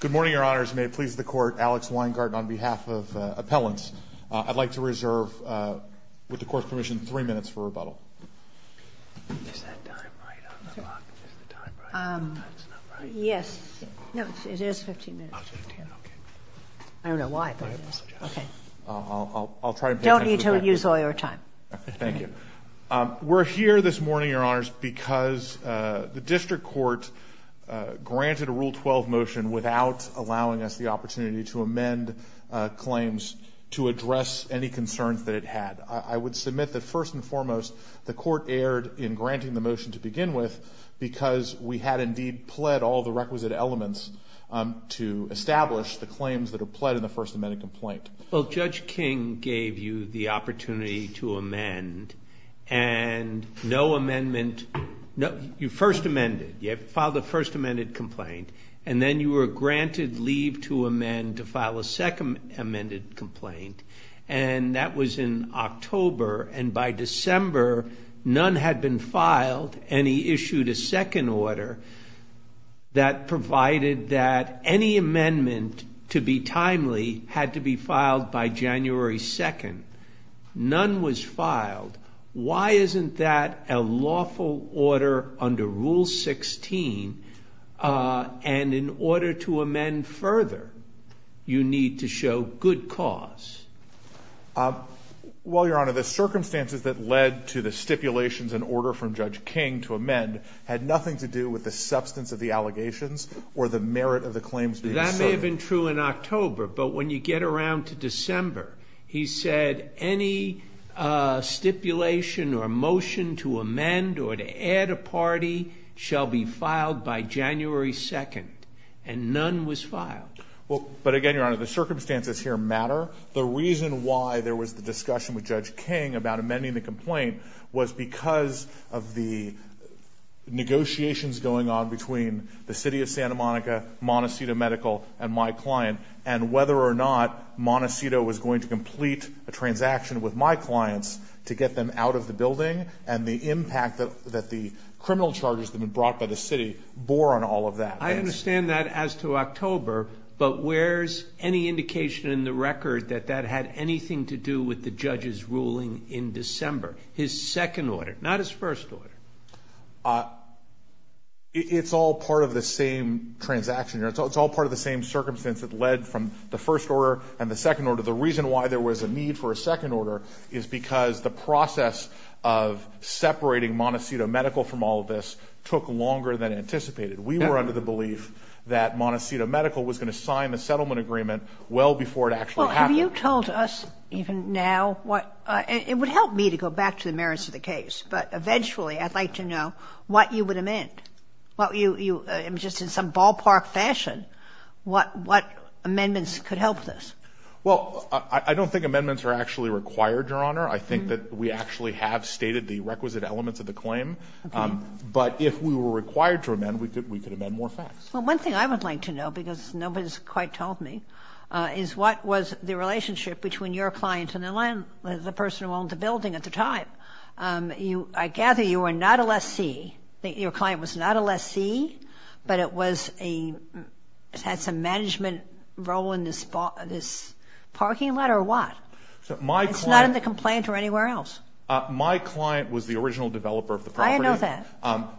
Good morning, Your Honors. May it please the Court, Alex Weingarten on behalf of Appellants. I'd like to reserve, with the Court's permission, three minutes for rebuttal. Is that time right on the clock? Is the time right? That's not right? Yes. No, it is 15 minutes. Oh, it's 15, okay. I don't know why, but it is. I have no suggestion. Okay. I'll try and put that to the record. Don't need to use all your time. Okay, thank you. We're here this morning, Your Honors, because the District Court granted a Rule 12 motion without allowing us the opportunity to amend claims to address any concerns that it had. I would submit that, first and foremost, the Court erred in granting the motion to begin with because we had indeed pled all the requisite elements to establish the claims that are pled in the First Amendment complaint. Well, Judge King gave you the opportunity to amend, and no amendment. You first amended. You filed the First Amendment complaint, and then you were granted leave to amend to file a second amended complaint, and that was in October, and by December, none had been filed, and he issued a second order that provided that any amendment to be timely had to be filed by January 2nd. None was filed. Why isn't that a lawful order under Rule 16, and in order to amend further, you need to show good cause? Well, Your Honor, the circumstances that led to the stipulations and order from Judge King to amend had nothing to do with the substance of the allegations or the merit of the claims being served. That may have been true in October, but when you get around to December, he said any stipulation or motion to amend or to add a party shall be filed by January 2nd, and none was filed. Well, but again, Your Honor, the circumstances here matter. The reason why there was the discussion with Judge King about amending the complaint was because of the negotiations going on between the City of Santa Monica, Montecito Medical, and my client, and whether or not Montecito was going to complete a transaction with my clients to get them out of the building, and the impact that the criminal charges that had been brought by the City bore on all of that. I understand that as to October, but where's any indication in the record that that had anything to do with the judge's ruling in December, his second order, not his first order? It's all part of the same transaction. It's all part of the same circumstance that led from the first order and the second order. The reason why there was a need for a second order is because the process of separating Montecito Medical from all of this took longer than anticipated. We were under the belief that Montecito Medical was going to sign the settlement agreement well before it actually happened. Well, have you told us even now what – it would help me to go back to the merits of the case, but eventually I'd like to know what you would amend, just in some ballpark fashion, what amendments could help this. Well, I don't think amendments are actually required, Your Honor. I think that we actually have stated the requisite elements of the claim. Okay. But if we were required to amend, we could amend more facts. Well, one thing I would like to know, because nobody's quite told me, is what was the relationship between your client and the person who owned the building at the time. I gather you were not a lessee. Your client was not a lessee, but it was a – it had some management role in this parking lot or what? My client – It's not in the complaint or anywhere else. My client was the original developer of the property. I know that.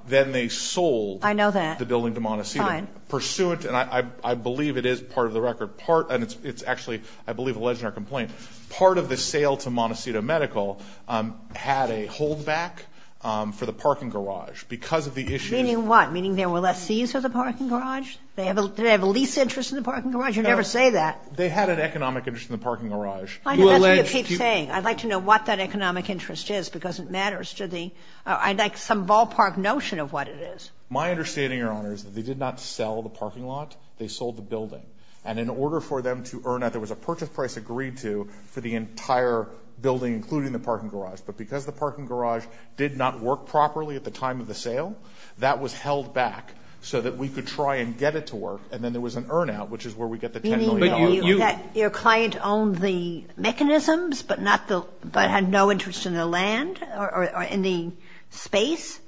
Then they sold the building to Montecito. I know that. Fine. Pursuant – and I believe it is part of the record – and it's actually, I believe, alleged in our complaint. Part of the sale to Montecito Medical had a holdback for the parking garage because of the issues. Meaning what? Meaning there were less sees for the parking garage? Did they have a lease interest in the parking garage? You never say that. No. They had an economic interest in the parking garage. That's what you keep saying. I'd like to know what that economic interest is because it matters to the – I'd like some ballpark notion of what it is. My understanding, Your Honor, is that they did not sell the parking lot. They sold the building. And in order for them to earn out, there was a purchase price agreed to for the entire building, including the parking garage. But because the parking garage did not work properly at the time of the sale, that was held back so that we could try and get it to work. And then there was an earn out, which is where we get the $10 million. Your client owned the mechanisms but had no interest in the land or in the space?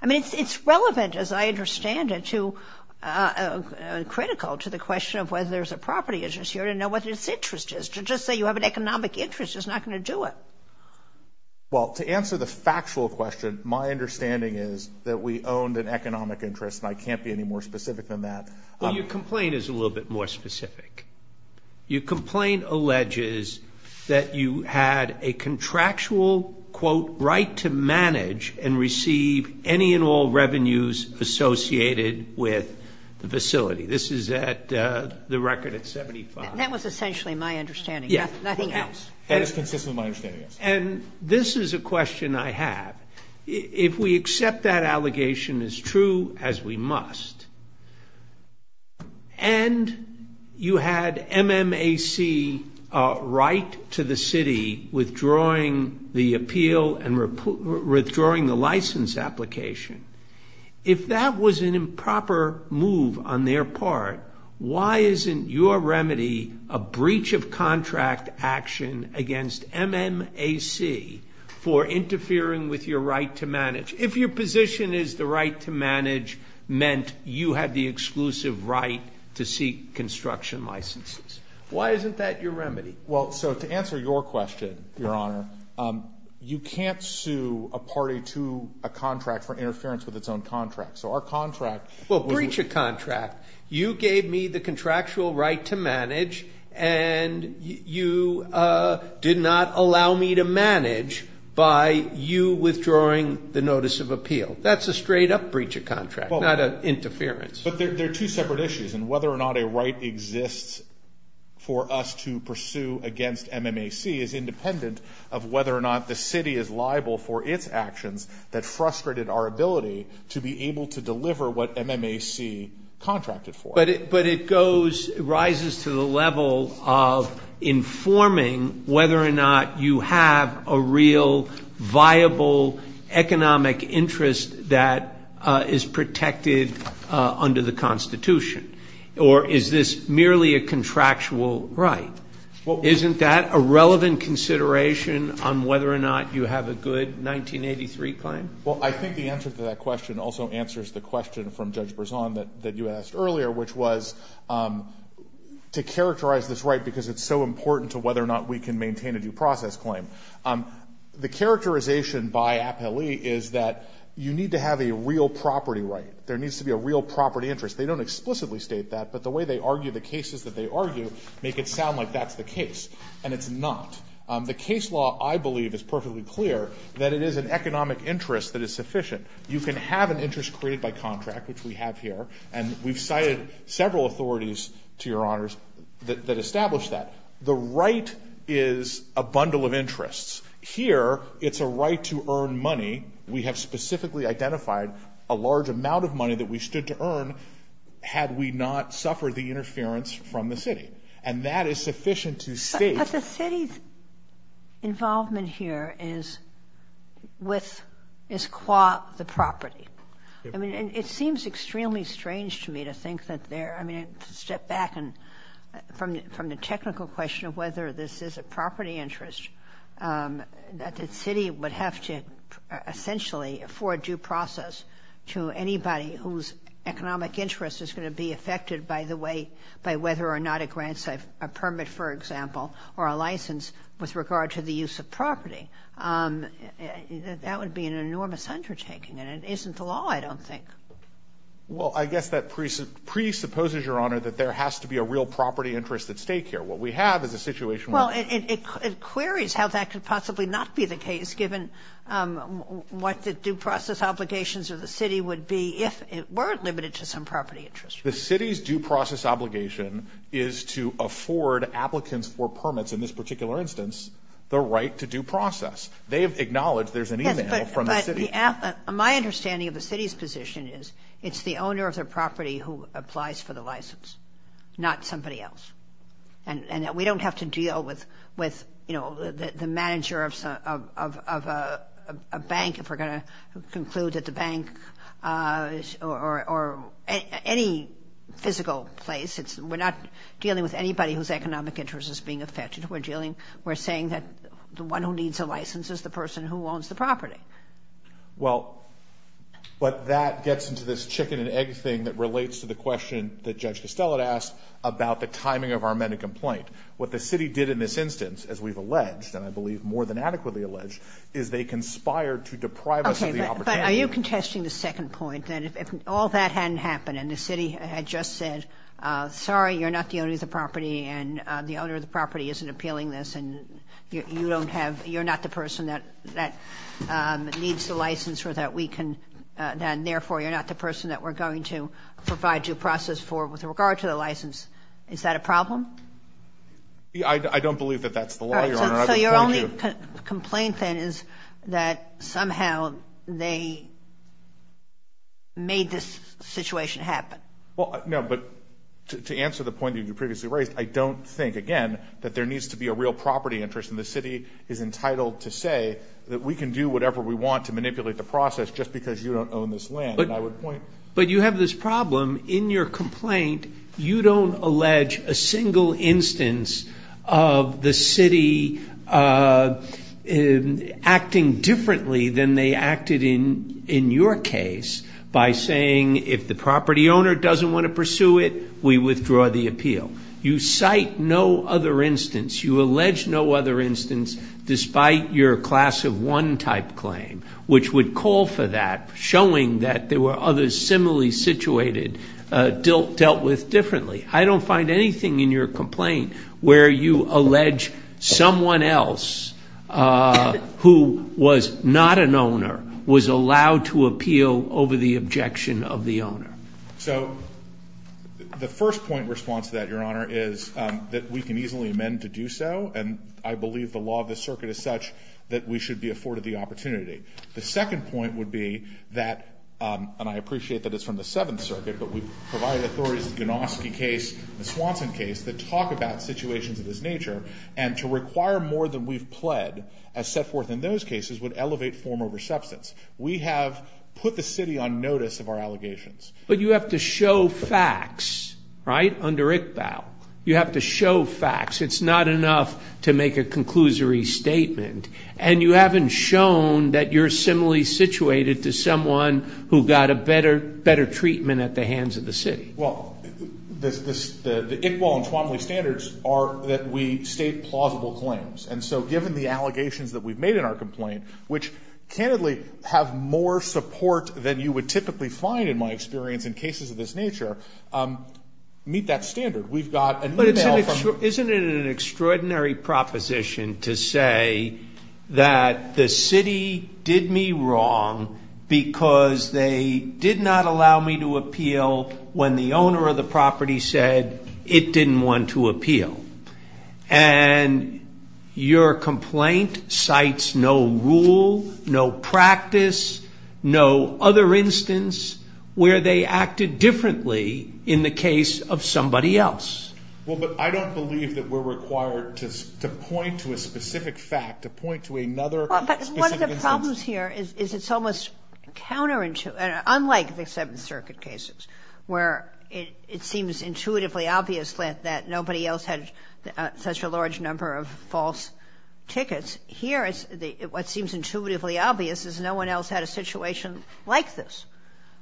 I mean, it's relevant, as I understand it, to – critical to the question of whether there's a property interest. You don't know what its interest is. To just say you have an economic interest is not going to do it. Well, to answer the factual question, my understanding is that we owned an economic interest, and I can't be any more specific than that. Well, your complaint is a little bit more specific. Your complaint alleges that you had a contractual, quote, right to manage and receive any and all revenues associated with the facility. This is at the record at 75. That was essentially my understanding. Yes. Nothing else. That is consistently my understanding, yes. And this is a question I have. If we accept that allegation as true as we must, and you had MMAC right to the city withdrawing the appeal and withdrawing the license application, if that was an improper move on their part, why isn't your remedy a breach of contract action against MMAC for interfering with your right to manage? If your position is the right to manage meant you had the exclusive right to seek construction licenses, why isn't that your remedy? Well, so to answer your question, Your Honor, you can't sue a party to a contract for interference with its own contract. So our contract was a breach of contract. You gave me the contractual right to manage, and you did not allow me to manage by you withdrawing the notice of appeal. That's a straight up breach of contract, not an interference. But they're two separate issues, and whether or not a right exists for us to pursue against MMAC is independent of whether or not the city is liable for its actions that frustrated our ability to be able to deliver what MMAC contracted for. But it goes, rises to the level of informing whether or not you have a real viable economic interest that is protected under the Constitution, or is this merely a contractual right? Isn't that a relevant consideration on whether or not you have a good 1983 claim? Well, I think the answer to that question also answers the question from Judge Brisson that you asked earlier, which was to characterize this right because it's so important to whether or not we can maintain a due process claim. The characterization by appellee is that you need to have a real property right. There needs to be a real property interest. They don't explicitly state that, but the way they argue the cases that they argue make it sound like that's the case, and it's not. The case law, I believe, is perfectly clear that it is an economic interest that is sufficient. You can have an interest created by contract, which we have here, and we've cited several authorities, to your honors, that establish that. The right is a bundle of interests. Here, it's a right to earn money. We have specifically identified a large amount of money that we stood to earn had we not suffered the interference from the city, and that is sufficient to state that the city's involvement here is qua the property. It seems extremely strange to me to think that they're – I mean, to step back from the technical question of whether this is a property interest, that the city would have to essentially afford due process to anybody whose economic interest is going to be affected by the way – a permit, for example, or a license with regard to the use of property. That would be an enormous undertaking, and it isn't the law, I don't think. Well, I guess that presupposes, your honor, that there has to be a real property interest at stake here. What we have is a situation where – Well, it queries how that could possibly not be the case given what the due process obligations of the city would be if it weren't limited to some property interest. The city's due process obligation is to afford applicants for permits, in this particular instance, the right to due process. They have acknowledged there's an email from the city. Yes, but the – my understanding of the city's position is it's the owner of the property who applies for the license, not somebody else. And we don't have to deal with, you know, the manager of a bank, if we're going to conclude that the bank – or any physical place. We're not dealing with anybody whose economic interest is being affected. We're dealing – we're saying that the one who needs a license is the person who owns the property. Well, but that gets into this chicken-and-egg thing that relates to the question that Judge Costello had asked about the timing of our amended complaint. What the city did in this instance, as we've alleged, and I believe more than adequately alleged, is they conspired to deprive us of the opportunity. But are you contesting the second point, that if all that hadn't happened and the city had just said, sorry, you're not the owner of the property and the owner of the property isn't appealing this and you don't have – you're not the person that needs the license or that we can – then, therefore, you're not the person that we're going to provide due process for with regard to the license. I don't believe that that's the law, Your Honor. So your only complaint, then, is that somehow they made this situation happen. Well, no, but to answer the point that you previously raised, I don't think, again, that there needs to be a real property interest and the city is entitled to say that we can do whatever we want to manipulate the process just because you don't own this land. And I would point – But you have this problem. In your complaint, you don't allege a single instance of the city acting differently than they acted in your case by saying, if the property owner doesn't want to pursue it, we withdraw the appeal. You cite no other instance. You allege no other instance despite your class of one type claim, which would call for that, showing that there were others similarly situated, dealt with differently. I don't find anything in your complaint where you allege someone else who was not an owner was allowed to appeal over the objection of the owner. So the first point in response to that, Your Honor, is that we can easily amend to do so, and I believe the law of the circuit is such that we should be afforded the opportunity. The second point would be that, and I appreciate that it's from the Seventh Circuit, but we provide authorities in the Gnoski case, the Swanson case, that talk about situations of this nature and to require more than we've pled as set forth in those cases would elevate form over substance. We have put the city on notice of our allegations. But you have to show facts, right, under ICBAO. You have to show facts. It's not enough to make a conclusory statement. And you haven't shown that you're similarly situated to someone who got a better treatment at the hands of the city. Well, the ICBAO and Tuomaly standards are that we state plausible claims. And so given the allegations that we've made in our complaint, which candidly have more support than you would typically find, in my experience, in cases of this nature, meet that standard. Isn't it an extraordinary proposition to say that the city did me wrong because they did not allow me to appeal when the owner of the property said it didn't want to appeal? And your complaint cites no rule, no practice, no other instance where they acted differently in the case of somebody else. Well, but I don't believe that we're required to point to a specific fact, to point to another specific instance. But one of the problems here is it's almost counterintuitive, unlike the Seventh Circuit cases, where it seems intuitively obvious that nobody else had such a large number of false tickets. Here, what seems intuitively obvious is no one else had a situation like this.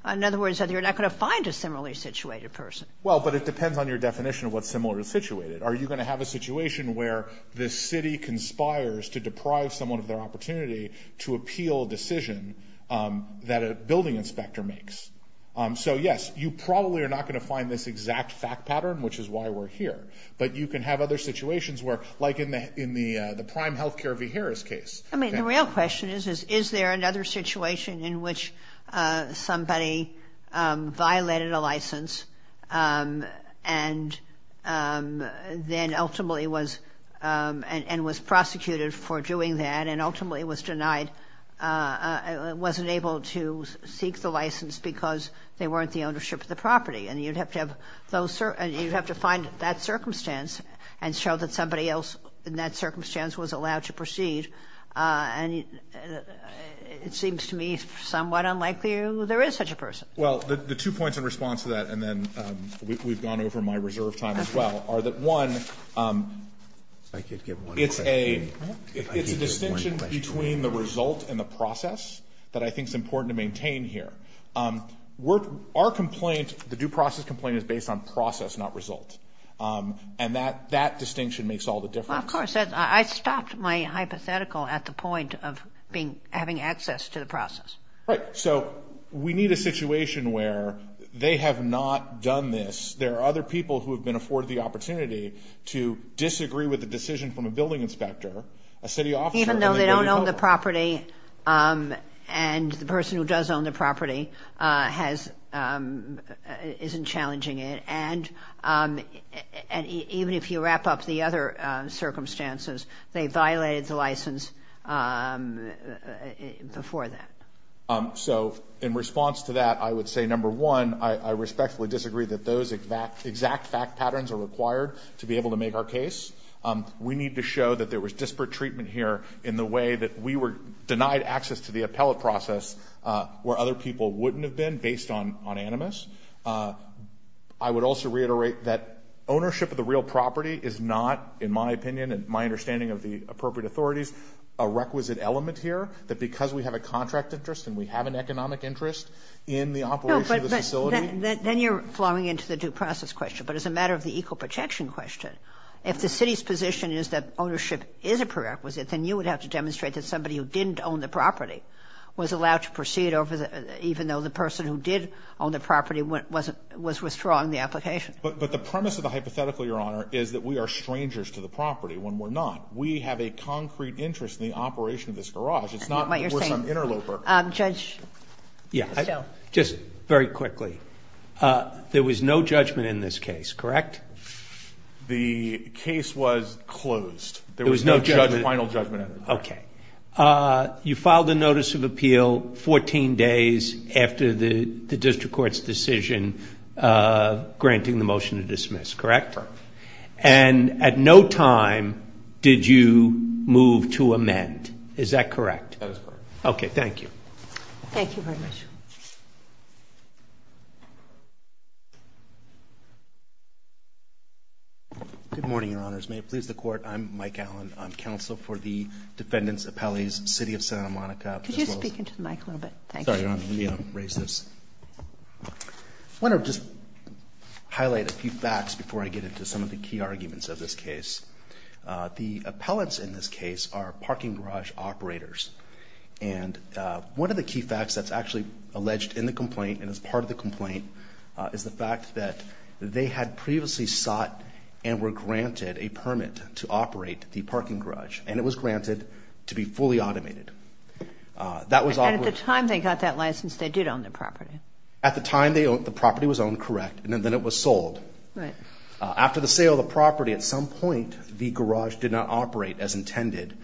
In other words, you're not going to find a similarly situated person. Well, but it depends on your definition of what's similarly situated. Are you going to have a situation where the city conspires to deprive someone of their opportunity to appeal a decision that a building inspector makes? So, yes, you probably are not going to find this exact fact pattern, which is why we're here. But you can have other situations where, like in the Prime Healthcare v. Harris case. I mean, the real question is, is there another situation in which somebody violated a license and then ultimately was prosecuted for doing that and ultimately was denied, wasn't able to seek the license because they weren't the ownership of the property? And you'd have to find that circumstance and show that somebody else in that circumstance was allowed to proceed. And it seems to me somewhat unlikely there is such a person. Well, the two points in response to that, and then we've gone over my reserve time as well, are that, one, it's a distinction between the result and the process that I think is important to maintain here. Our complaint, the due process complaint, is based on process, not result. And that distinction makes all the difference. Well, of course. I stopped my hypothetical at the point of having access to the process. Right. So we need a situation where they have not done this. There are other people who have been afforded the opportunity to disagree with the decision from a building inspector, a city officer. Even though they don't own the property and the person who does own the property isn't challenging it. And even if you wrap up the other circumstances, they violated the license before that. So in response to that, I would say, number one, I respectfully disagree that those exact fact patterns are required to be able to make our case. We need to show that there was disparate treatment here in the way that we were denied access to the appellate process where other people wouldn't have been based on animus. I would also reiterate that ownership of the real property is not, in my opinion and my understanding of the appropriate authorities, a requisite element here, that because we have a contract interest and we have an economic interest in the operation of the facility. No, but then you're flowing into the due process question. But as a matter of the equal protection question, if the city's position is that ownership is a prerequisite, then you would have to demonstrate that somebody who didn't own the property was allowed to proceed even though the person who did own the property was withdrawing the application. But the premise of the hypothetical, Your Honor, is that we are strangers to the property when we're not. We have a concrete interest in the operation of this garage. It's not worse than an interloper. Judge? Yeah, just very quickly. There was no judgment in this case, correct? The case was closed. There was no final judgment. Okay. You filed a notice of appeal 14 days after the district court's decision granting the motion to dismiss, correct? Correct. And at no time did you move to amend. Is that correct? That is correct. Okay, thank you. Thank you very much. Good morning, Your Honors. May it please the Court? I'm Mike Allen. I'm counsel for the defendants' appellees, City of Santa Monica. Could you speak into the mic a little bit? Thank you. Sorry, Your Honor. Let me raise this. I want to just highlight a few facts before I get into some of the key arguments of this case. The appellants in this case are parking garage operators, and one of the key facts that's actually alleged in the complaint and is part of the complaint is the fact that they had previously sought and were granted a permit to operate the parking garage, and it was granted to be fully automated. And at the time they got that license, they did own the property. At the time the property was owned, correct, and then it was sold. Right. After the sale of the property, at some point, the garage did not operate as intended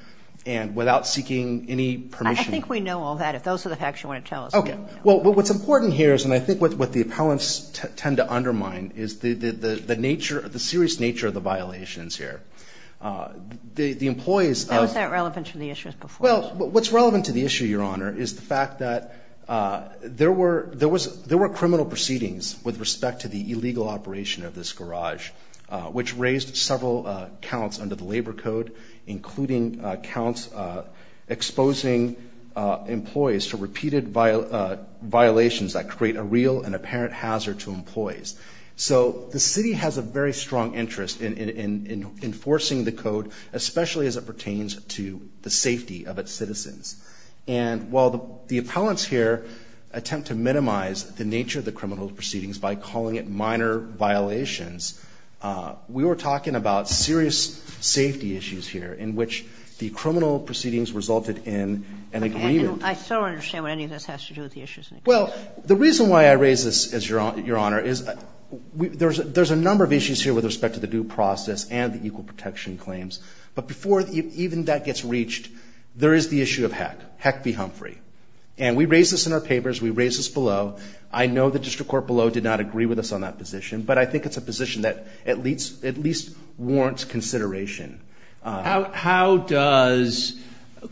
and without seeking any permission. I think we know all that. If those are the facts you want to tell us, we know. Okay. Well, what's important here is, and I think what the appellants tend to undermine, is the serious nature of the violations here. The employees of – How is that relevant to the issues before us? Well, what's relevant to the issue, Your Honor, is the fact that there were criminal proceedings with respect to the illegal operation of this garage, which raised several counts under the labor code, including counts exposing employees to repeated violations that create a real and apparent hazard to employees. So the city has a very strong interest in enforcing the code, especially as it pertains to the safety of its citizens. And while the appellants here attempt to minimize the nature of the criminal proceedings by calling it minor violations, we were talking about serious safety issues here, in which the criminal proceedings resulted in an agreement. I still don't understand what any of this has to do with the issues in the case. Well, the reason why I raise this, Your Honor, is there's a number of issues here with respect to the due process and the equal protection claims. But before even that gets reached, there is the issue of heck. Heck be Humphrey. And we raise this in our papers. We raise this below. I know the district court below did not agree with us on that position, but I think it's a position that at least warrants consideration. How does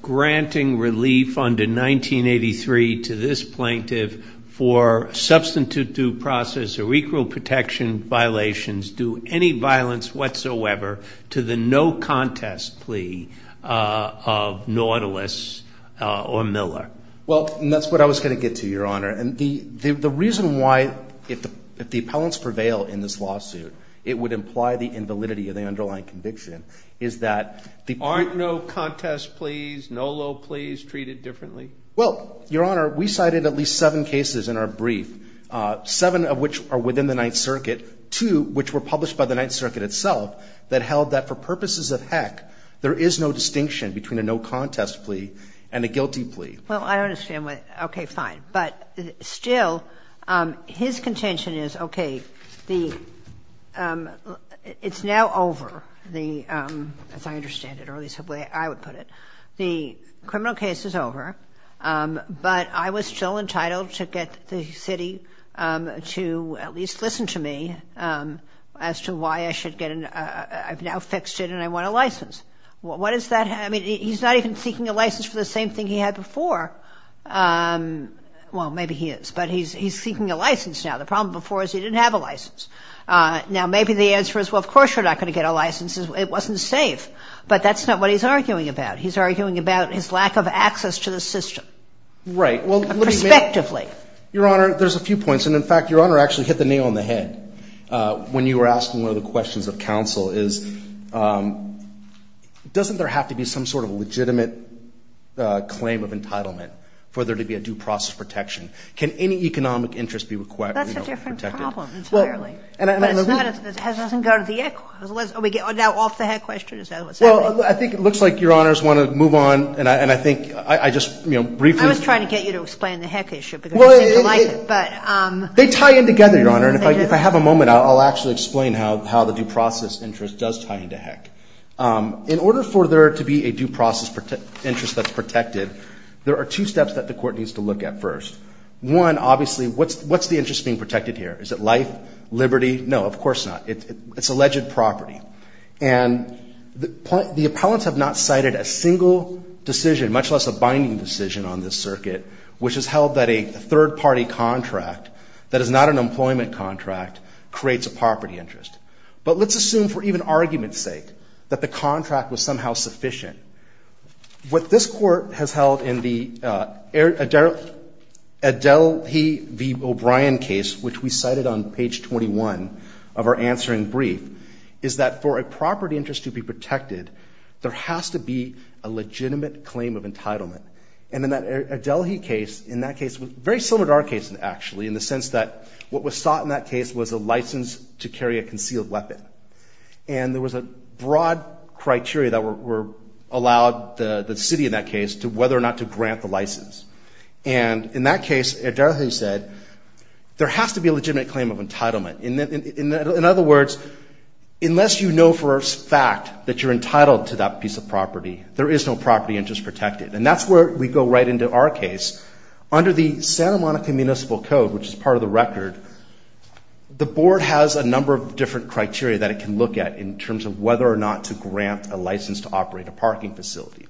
granting relief under 1983 to this plaintiff for substantive due process or equal protection violations do any violence whatsoever to the no contest plea of Nautilus or Miller? Well, and that's what I was going to get to, Your Honor. And the reason why, if the appellants prevail in this lawsuit, it would imply the invalidity of the underlying conviction is that the... Aren't no contest pleas, no low pleas treated differently? Well, Your Honor, we cited at least seven cases in our brief, seven of which are within the Ninth Circuit, two which were published by the Ninth Circuit itself, that held that for purposes of heck, there is no distinction between a no contest plea and a guilty plea. Well, I don't understand what... Okay, fine. But still, his contention is, okay, the... It's now over. The... As I understand it, or at least the way I would put it. The criminal case is over. But I was still entitled to get the city to at least listen to me as to why I should get an... I've now fixed it and I want a license. What does that have... I mean, he's not even seeking a license for the same thing he had before. Well, maybe he is, but he's seeking a license now. The problem before is he didn't have a license. Now, maybe the answer is, well, of course you're not going to get a license. It wasn't safe. But that's not what he's arguing about. He's arguing about his lack of access to the system. Right, well... Perspectively. Your Honor, there's a few points. And, in fact, Your Honor actually hit the nail on the head when you were asking one of the questions of counsel, is doesn't there have to be some sort of legitimate claim of entitlement for there to be a due process protection? Can any economic interest be required... That's a different problem entirely. Well, and I... But it's not... It doesn't go to the... Now, off the head question is... Well, I think it looks like Your Honors want to move on. And I think I just, you know, briefly... I was trying to get you to explain the heck issue. Well... But... They tie in together, Your Honor. And if I have a moment, I'll actually explain how the due process interest does tie into heck. In order for there to be a due process interest that's protected, there are two steps that the Court needs to look at first. One, obviously, what's the interest being protected here? Is it life, liberty? No, of course not. It's alleged property. And the appellants have not cited a single decision, much less a binding decision on this circuit, which has held that a third-party contract that is not an employment contract creates a property interest. But let's assume, for even argument's sake, that the contract was somehow sufficient. What this Court has held in the Adelhe v. O'Brien case, which we cited on page 21 of our answering brief, is that for a property interest to be protected, there has to be a legitimate claim of entitlement. And in that Adelhe case, in that case, very similar to our case, actually, in the sense that what was sought in that case was a license to carry a concealed weapon. And there was a broad criteria that allowed the city in that case whether or not to grant the license. And in that case, Adelhe said, there has to be a legitimate claim of entitlement. In other words, unless you know for a fact that you're entitled to that piece of property, there is no property interest protected. And that's where we go right into our case. Under the Santa Monica Municipal Code, which is part of the record, the Board has a number of different criteria that it can look at in terms of whether or not to grant a license to operate a parking facility.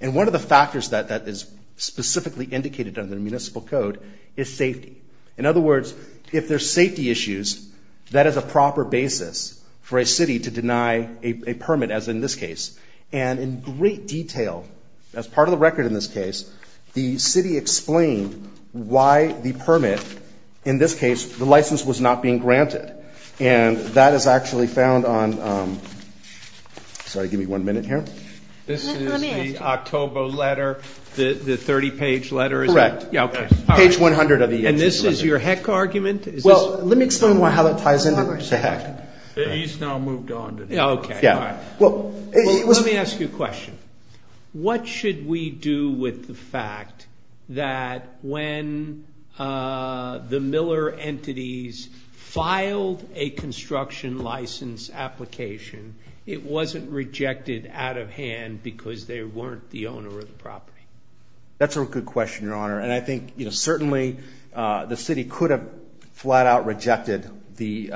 And one of the factors that is specifically indicated under the Municipal Code is safety. In other words, if there's safety issues, that is a proper basis for a city to deny a permit, as in this case. And in great detail, as part of the record in this case, the city explained why the permit, in this case, the license was not being granted. And that is actually found on – sorry, give me one minute here. This is the October letter, the 30-page letter, is it? Correct. Yeah, okay. Page 100 of the year 2011. And this is your heck argument? Well, let me explain how that ties into the heck. He's now moved on to the heck. Okay, all right. Well, let me ask you a question. What should we do with the fact that when the Miller entities filed a construction license application, it wasn't rejected out of hand because they weren't the owner of the property? That's a good question, Your Honor, and I think certainly the city could have flat out rejected the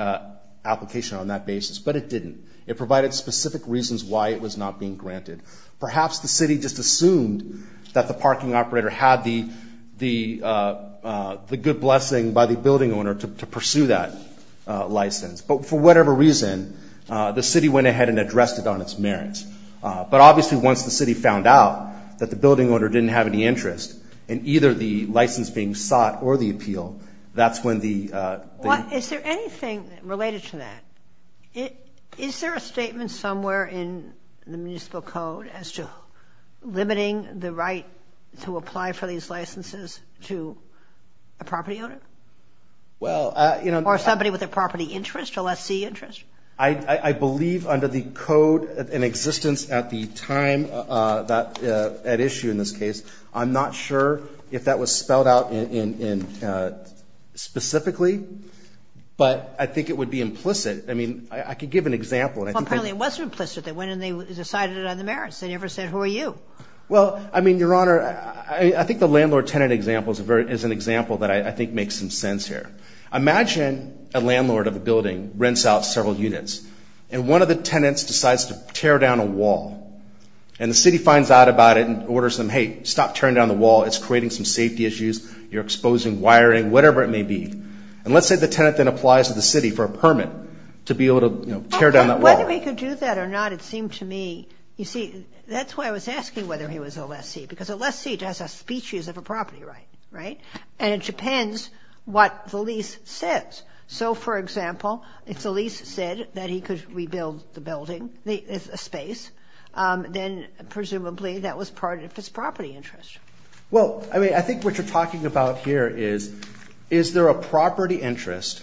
application on that basis, but it didn't. It provided specific reasons why it was not being granted. Perhaps the city just assumed that the parking operator had the good blessing by the building owner to pursue that license. But for whatever reason, the city went ahead and addressed it on its merits. But obviously once the city found out that the building owner didn't have any interest in either the license being sought or the appeal, that's when the ---- Is there anything related to that? Is there a statement somewhere in the municipal code as to limiting the right to apply for these licenses to a property owner? Well, you know ---- Or somebody with a property interest, a lessee interest? I believe under the code in existence at the time at issue in this case, I'm not sure if that was spelled out specifically, but I think it would be implicit. I mean, I could give an example. Apparently it wasn't implicit. They went and they decided it on the merits. They never said who are you. Well, I mean, Your Honor, I think the landlord-tenant example is an example that I think makes some sense here. Imagine a landlord of a building rents out several units, and one of the tenants decides to tear down a wall. And the city finds out about it and orders them, hey, stop tearing down the wall. It's creating some safety issues. You're exposing wiring, whatever it may be. And let's say the tenant then applies to the city for a permit to be able to, you know, tear down that wall. Whether he could do that or not, it seemed to me ---- You see, that's why I was asking whether he was a lessee, because a lessee has a species of a property right, right? And it depends what the lease says. So, for example, if the lease said that he could rebuild the building, the space, then presumably that was part of his property interest. Well, I mean, I think what you're talking about here is, is there a property interest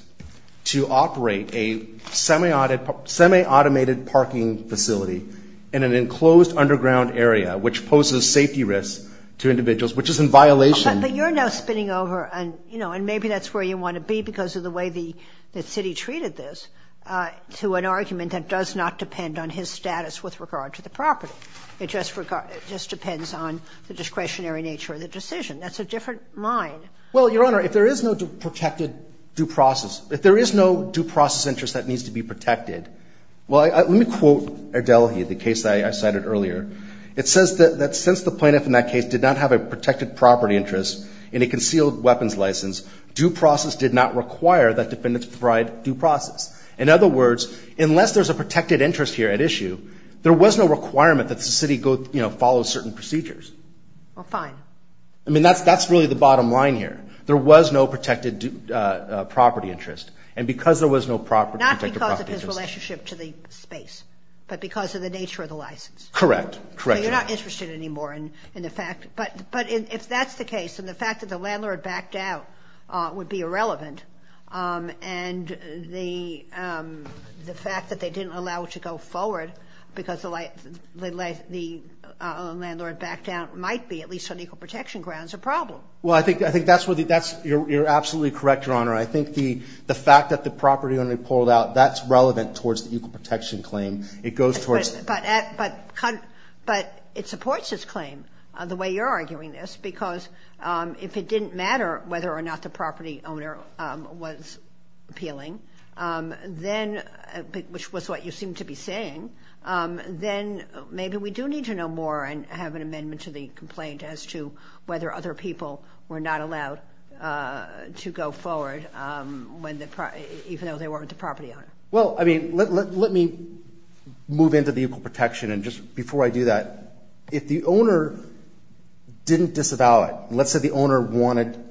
to operate a semi-automated parking facility in an enclosed underground area, which poses safety risks to individuals, which is in violation ---- But you're now spinning over, you know, and maybe that's where you want to be because of the way the city treated this, to an argument that does not depend on his status with regard to the property. It just depends on the discretionary nature of the decision. That's a different line. Well, Your Honor, if there is no protected due process, if there is no due process interest that needs to be protected, well, let me quote Erdelhi, the case that I cited earlier. It says that since the plaintiff in that case did not have a protected property interest in a concealed weapons license, due process did not require that defendants provide due process. In other words, unless there's a protected interest here at issue, there was no requirement that the city, you know, follow certain procedures. Well, fine. I mean, that's really the bottom line here. There was no protected property interest. And because there was no protected property interest ---- Correct. So you're not interested anymore in the fact. But if that's the case, and the fact that the landlord backed out would be irrelevant, and the fact that they didn't allow it to go forward because the landlord backed out might be, at least on equal protection grounds, a problem. Well, I think that's where the ---- you're absolutely correct, Your Honor. I think the fact that the property only pulled out, that's relevant towards the equal protection claim. It goes towards ---- But it supports this claim, the way you're arguing this, because if it didn't matter whether or not the property owner was appealing, then, which was what you seemed to be saying, then maybe we do need to know more and have an amendment to the complaint as to whether other people were not allowed to go forward even though they weren't the property owner. Well, I mean, let me move into the equal protection. And just before I do that, if the owner didn't disavow it, let's say the owner wanted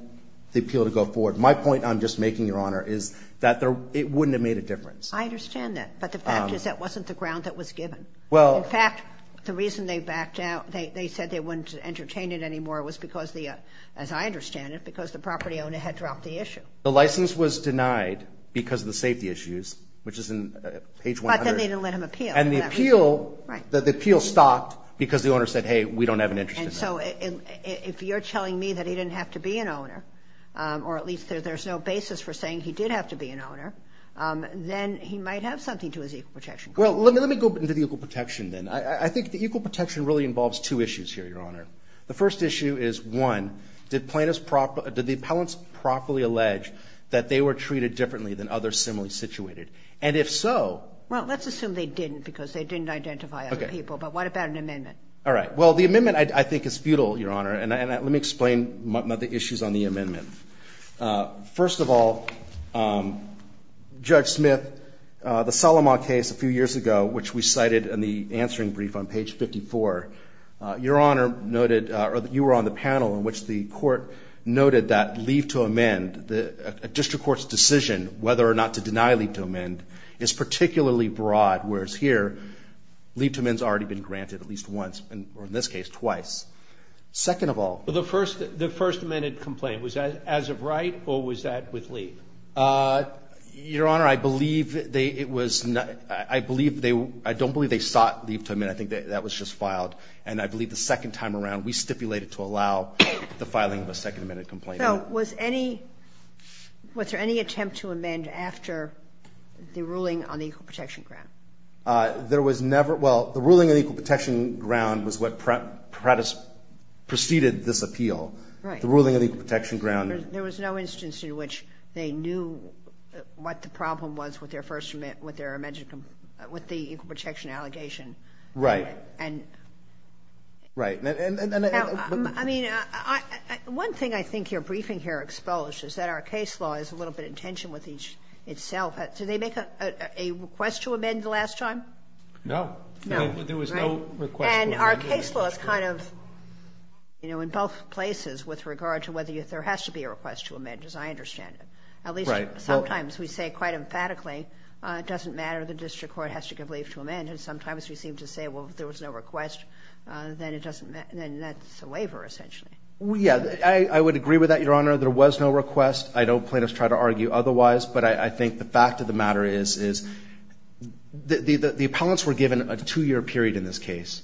the appeal to go forward, my point, I'm just making, Your Honor, is that it wouldn't have made a difference. I understand that. But the fact is that wasn't the ground that was given. Well ---- In fact, the reason they backed out, they said they wouldn't entertain it anymore, was because the ---- as I understand it, because the property owner had dropped the issue. The license was denied because of the safety issues, which is in page 100. But then they didn't let him appeal. And the appeal stopped because the owner said, hey, we don't have an interest in that. And so if you're telling me that he didn't have to be an owner, or at least there's no basis for saying he did have to be an owner, then he might have something to his equal protection claim. Well, let me go into the equal protection then. I think the equal protection really involves two issues here, Your Honor. The first issue is, one, did plaintiffs proper ---- did the appellants properly allege that they were treated differently than others similarly situated? And if so ---- Well, let's assume they didn't because they didn't identify other people. Okay. But what about an amendment? All right. Well, the amendment I think is futile, Your Honor. And let me explain the issues on the amendment. First of all, Judge Smith, the Solomon case a few years ago, which we cited in the answering brief on page 54, you were on the panel in which the court noted that leave to amend, a district court's decision whether or not to deny leave to amend, is particularly broad, whereas here leave to amend has already been granted at least once, or in this case, twice. Second of all ---- Well, the first amended complaint, was that as of right or was that with leave? Your Honor, I don't believe they sought leave to amend. I think that was just filed. And I believe the second time around, we stipulated to allow the filing of a second amended complaint. So was there any attempt to amend after the ruling on the equal protection ground? There was never ---- Well, the ruling on the equal protection ground was what preceded this appeal. Right. The ruling on the equal protection ground ---- There was no instance in which they knew what the problem was with their first amendment, with the equal protection allegation. Right. And ---- Right. Now, I mean, one thing I think your briefing here exposes is that our case law is a little bit in tension with each itself. Did they make a request to amend the last time? No. No. There was no request to amend. And our case law is kind of, you know, in both places with regard to whether there has to be a request to amend, as I understand it. Right. At least sometimes we say quite emphatically, it doesn't matter, the district court has to give leave to amend. And sometimes we seem to say, well, if there was no request, then it doesn't ---- then that's a waiver essentially. Yeah. I would agree with that, Your Honor. There was no request. I don't plaintiffs try to argue otherwise. But I think the fact of the matter is, is the appellants were given a two-year period in this case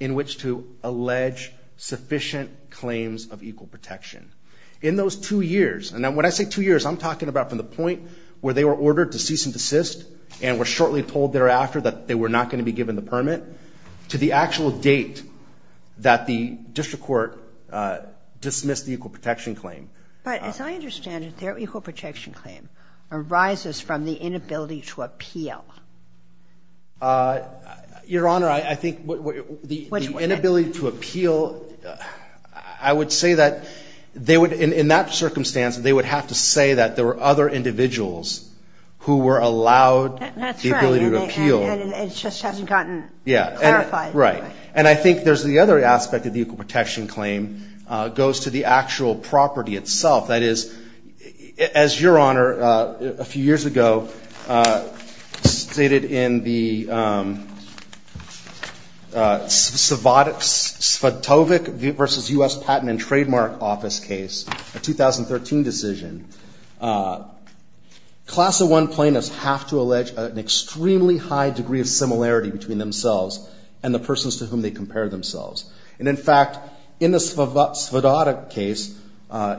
in which to allege sufficient claims of equal protection. In those two years, and when I say two years, I'm talking about from the point where they were ordered to cease and desist and were shortly told thereafter that they were not going to be given the permit to the actual date that the district court dismissed the equal protection claim. But as I understand it, their equal protection claim arises from the inability to appeal. Your Honor, I think the inability to appeal, I would say that they would, in that circumstance, they would have to say that there were other individuals who were allowed the ability to appeal. That's right. And it just hasn't gotten clarified. Right. And I think there's the other aspect of the equal protection claim goes to the actual property itself. That is, as Your Honor, a few years ago, stated in the Svatovic v. U.S. Patent and Trademark Office case, a 2013 decision, Class I plaintiffs have to allege an extremely high degree of similarity between themselves and the persons to whom they compare themselves. And in fact, in the Svatovic case,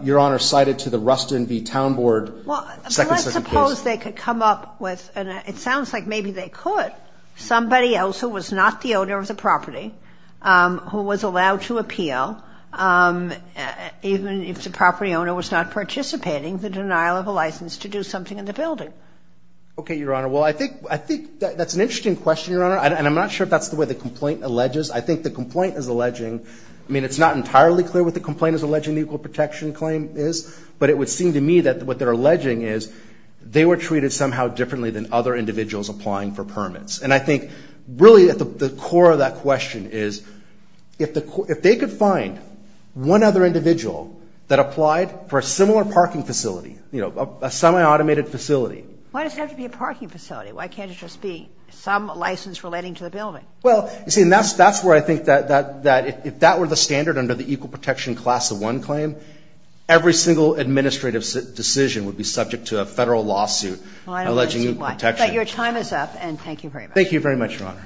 Your Honor cited to the Rustin v. Town Board second-second case. Well, let's suppose they could come up with, and it sounds like maybe they could, somebody else who was not the owner of the property, who was allowed to appeal even if the property owner was not participating, the denial of a license to do something in the building. Okay, Your Honor. Well, I think that's an interesting question, Your Honor, and I'm not sure if that's the way the complaint alleges. I think the complaint is alleging, I mean, it's not entirely clear what the complaint is alleging the equal protection claim is, but it would seem to me that what they're alleging is they were treated somehow differently than other individuals applying for permits. And I think really at the core of that question is if they could find one other individual that applied for a similar parking facility, you know, a semi-automated facility. Why does it have to be a parking facility? Why can't it just be some license relating to the building? Well, you see, and that's where I think that if that were the standard under the equal protection class of one claim, every single administrative decision would be subject to a Federal lawsuit alleging equal protection. Well, I don't understand why. But your time is up, and thank you very much. Thank you very much, Your Honor.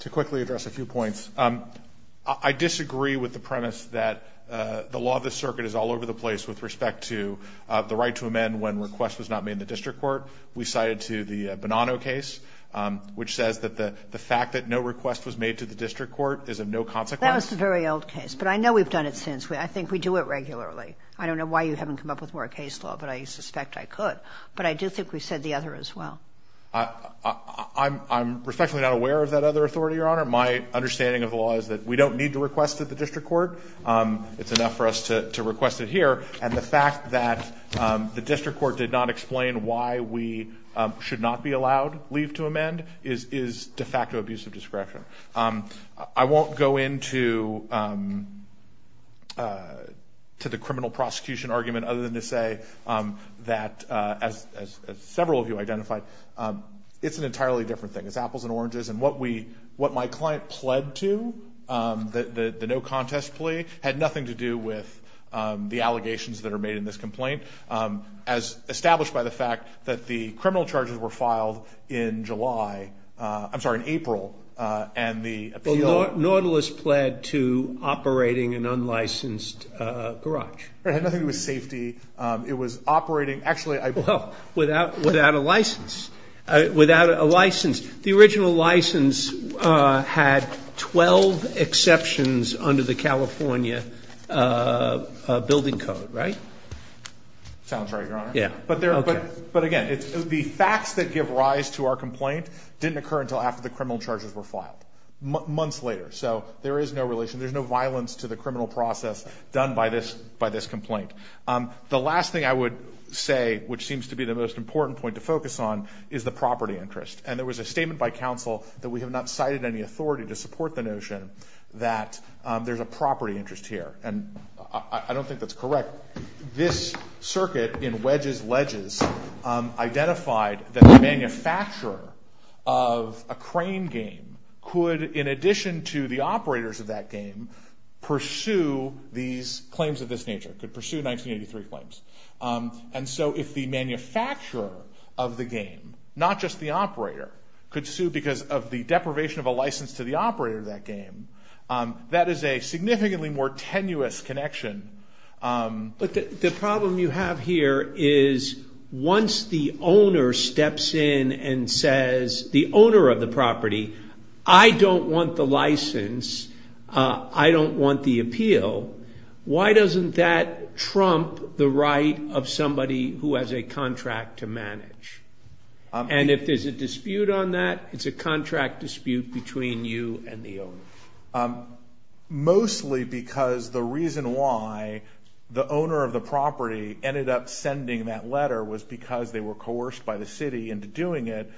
To quickly address a few points. I disagree with the premise that the law of the circuit is all over the place with respect to the right to amend when request was not made in the district court. We cited to the Bonanno case, which says that the fact that no request was made to the district court is of no consequence. That was a very old case, but I know we've done it since. I think we do it regularly. I don't know why you haven't come up with more case law, but I suspect I could. But I do think we said the other as well. I'm respectfully not aware of that other authority, Your Honor. My understanding of the law is that we don't need to request it at the district court. It's enough for us to request it here. And the fact that the district court did not explain why we should not be allowed leave to amend is de facto abuse of discretion. I won't go into the criminal prosecution argument other than to say that, as an entirely different thing. It's apples and oranges. And what my client pled to, the no contest plea, had nothing to do with the allegations that are made in this complaint, as established by the fact that the criminal charges were filed in July. I'm sorry, in April. And the appeal. Nautilus pled to operating an unlicensed garage. Right. Nothing to do with safety. It was operating. Without a license. Without a license. The original license had 12 exceptions under the California building code, right? Sounds right, Your Honor. But again, the facts that give rise to our complaint didn't occur until after the criminal charges were filed. Months later. So there is no relation. There's no violence to the criminal process done by this complaint. The last thing I would say, which seems to be the most important point to focus on, is the property interest. And there was a statement by counsel that we have not cited any authority to support the notion that there's a property interest here. And I don't think that's correct. This circuit in Wedges Ledges identified that the manufacturer of a crane game could, in addition to the operators of that game, pursue these claims of this 1983 claims. And so if the manufacturer of the game, not just the operator, could sue because of the deprivation of a license to the operator of that game, that is a significantly more tenuous connection. But the problem you have here is once the owner steps in and says, the owner of the property, I don't want the license, I don't want the appeal, why doesn't that trump the right of somebody who has a contract to manage? And if there's a dispute on that, it's a contract dispute between you and the owner. Mostly because the reason why the owner of the property ended up sending that letter was because they were coerced by the city into doing it,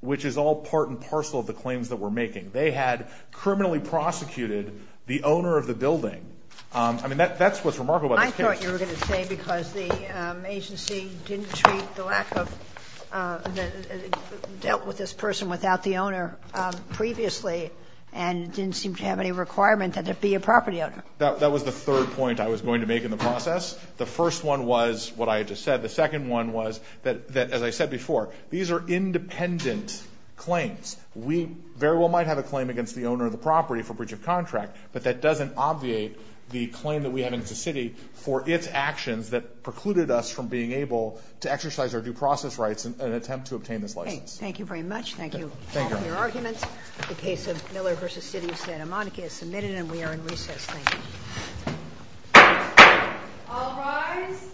which is all part and parcel of the claims that we're making. They had criminally prosecuted the owner of the building. I mean, that's what's remarkable about this case. I thought you were going to say because the agency didn't treat the lack of, dealt with this person without the owner previously and didn't seem to have any requirement that it be a property owner. That was the third point I was going to make in the process. The first one was what I had just said. The second one was that, as I said before, these are independent claims. We very well might have a claim against the owner of the property for breach of contract, but that doesn't obviate the claim that we have against the city for its actions that precluded us from being able to exercise our due process rights in an attempt to obtain this license. Thank you very much. Thank you for your arguments. The case of Miller v. City of Santa Monica is submitted and we are in recess. Thank you. All rise.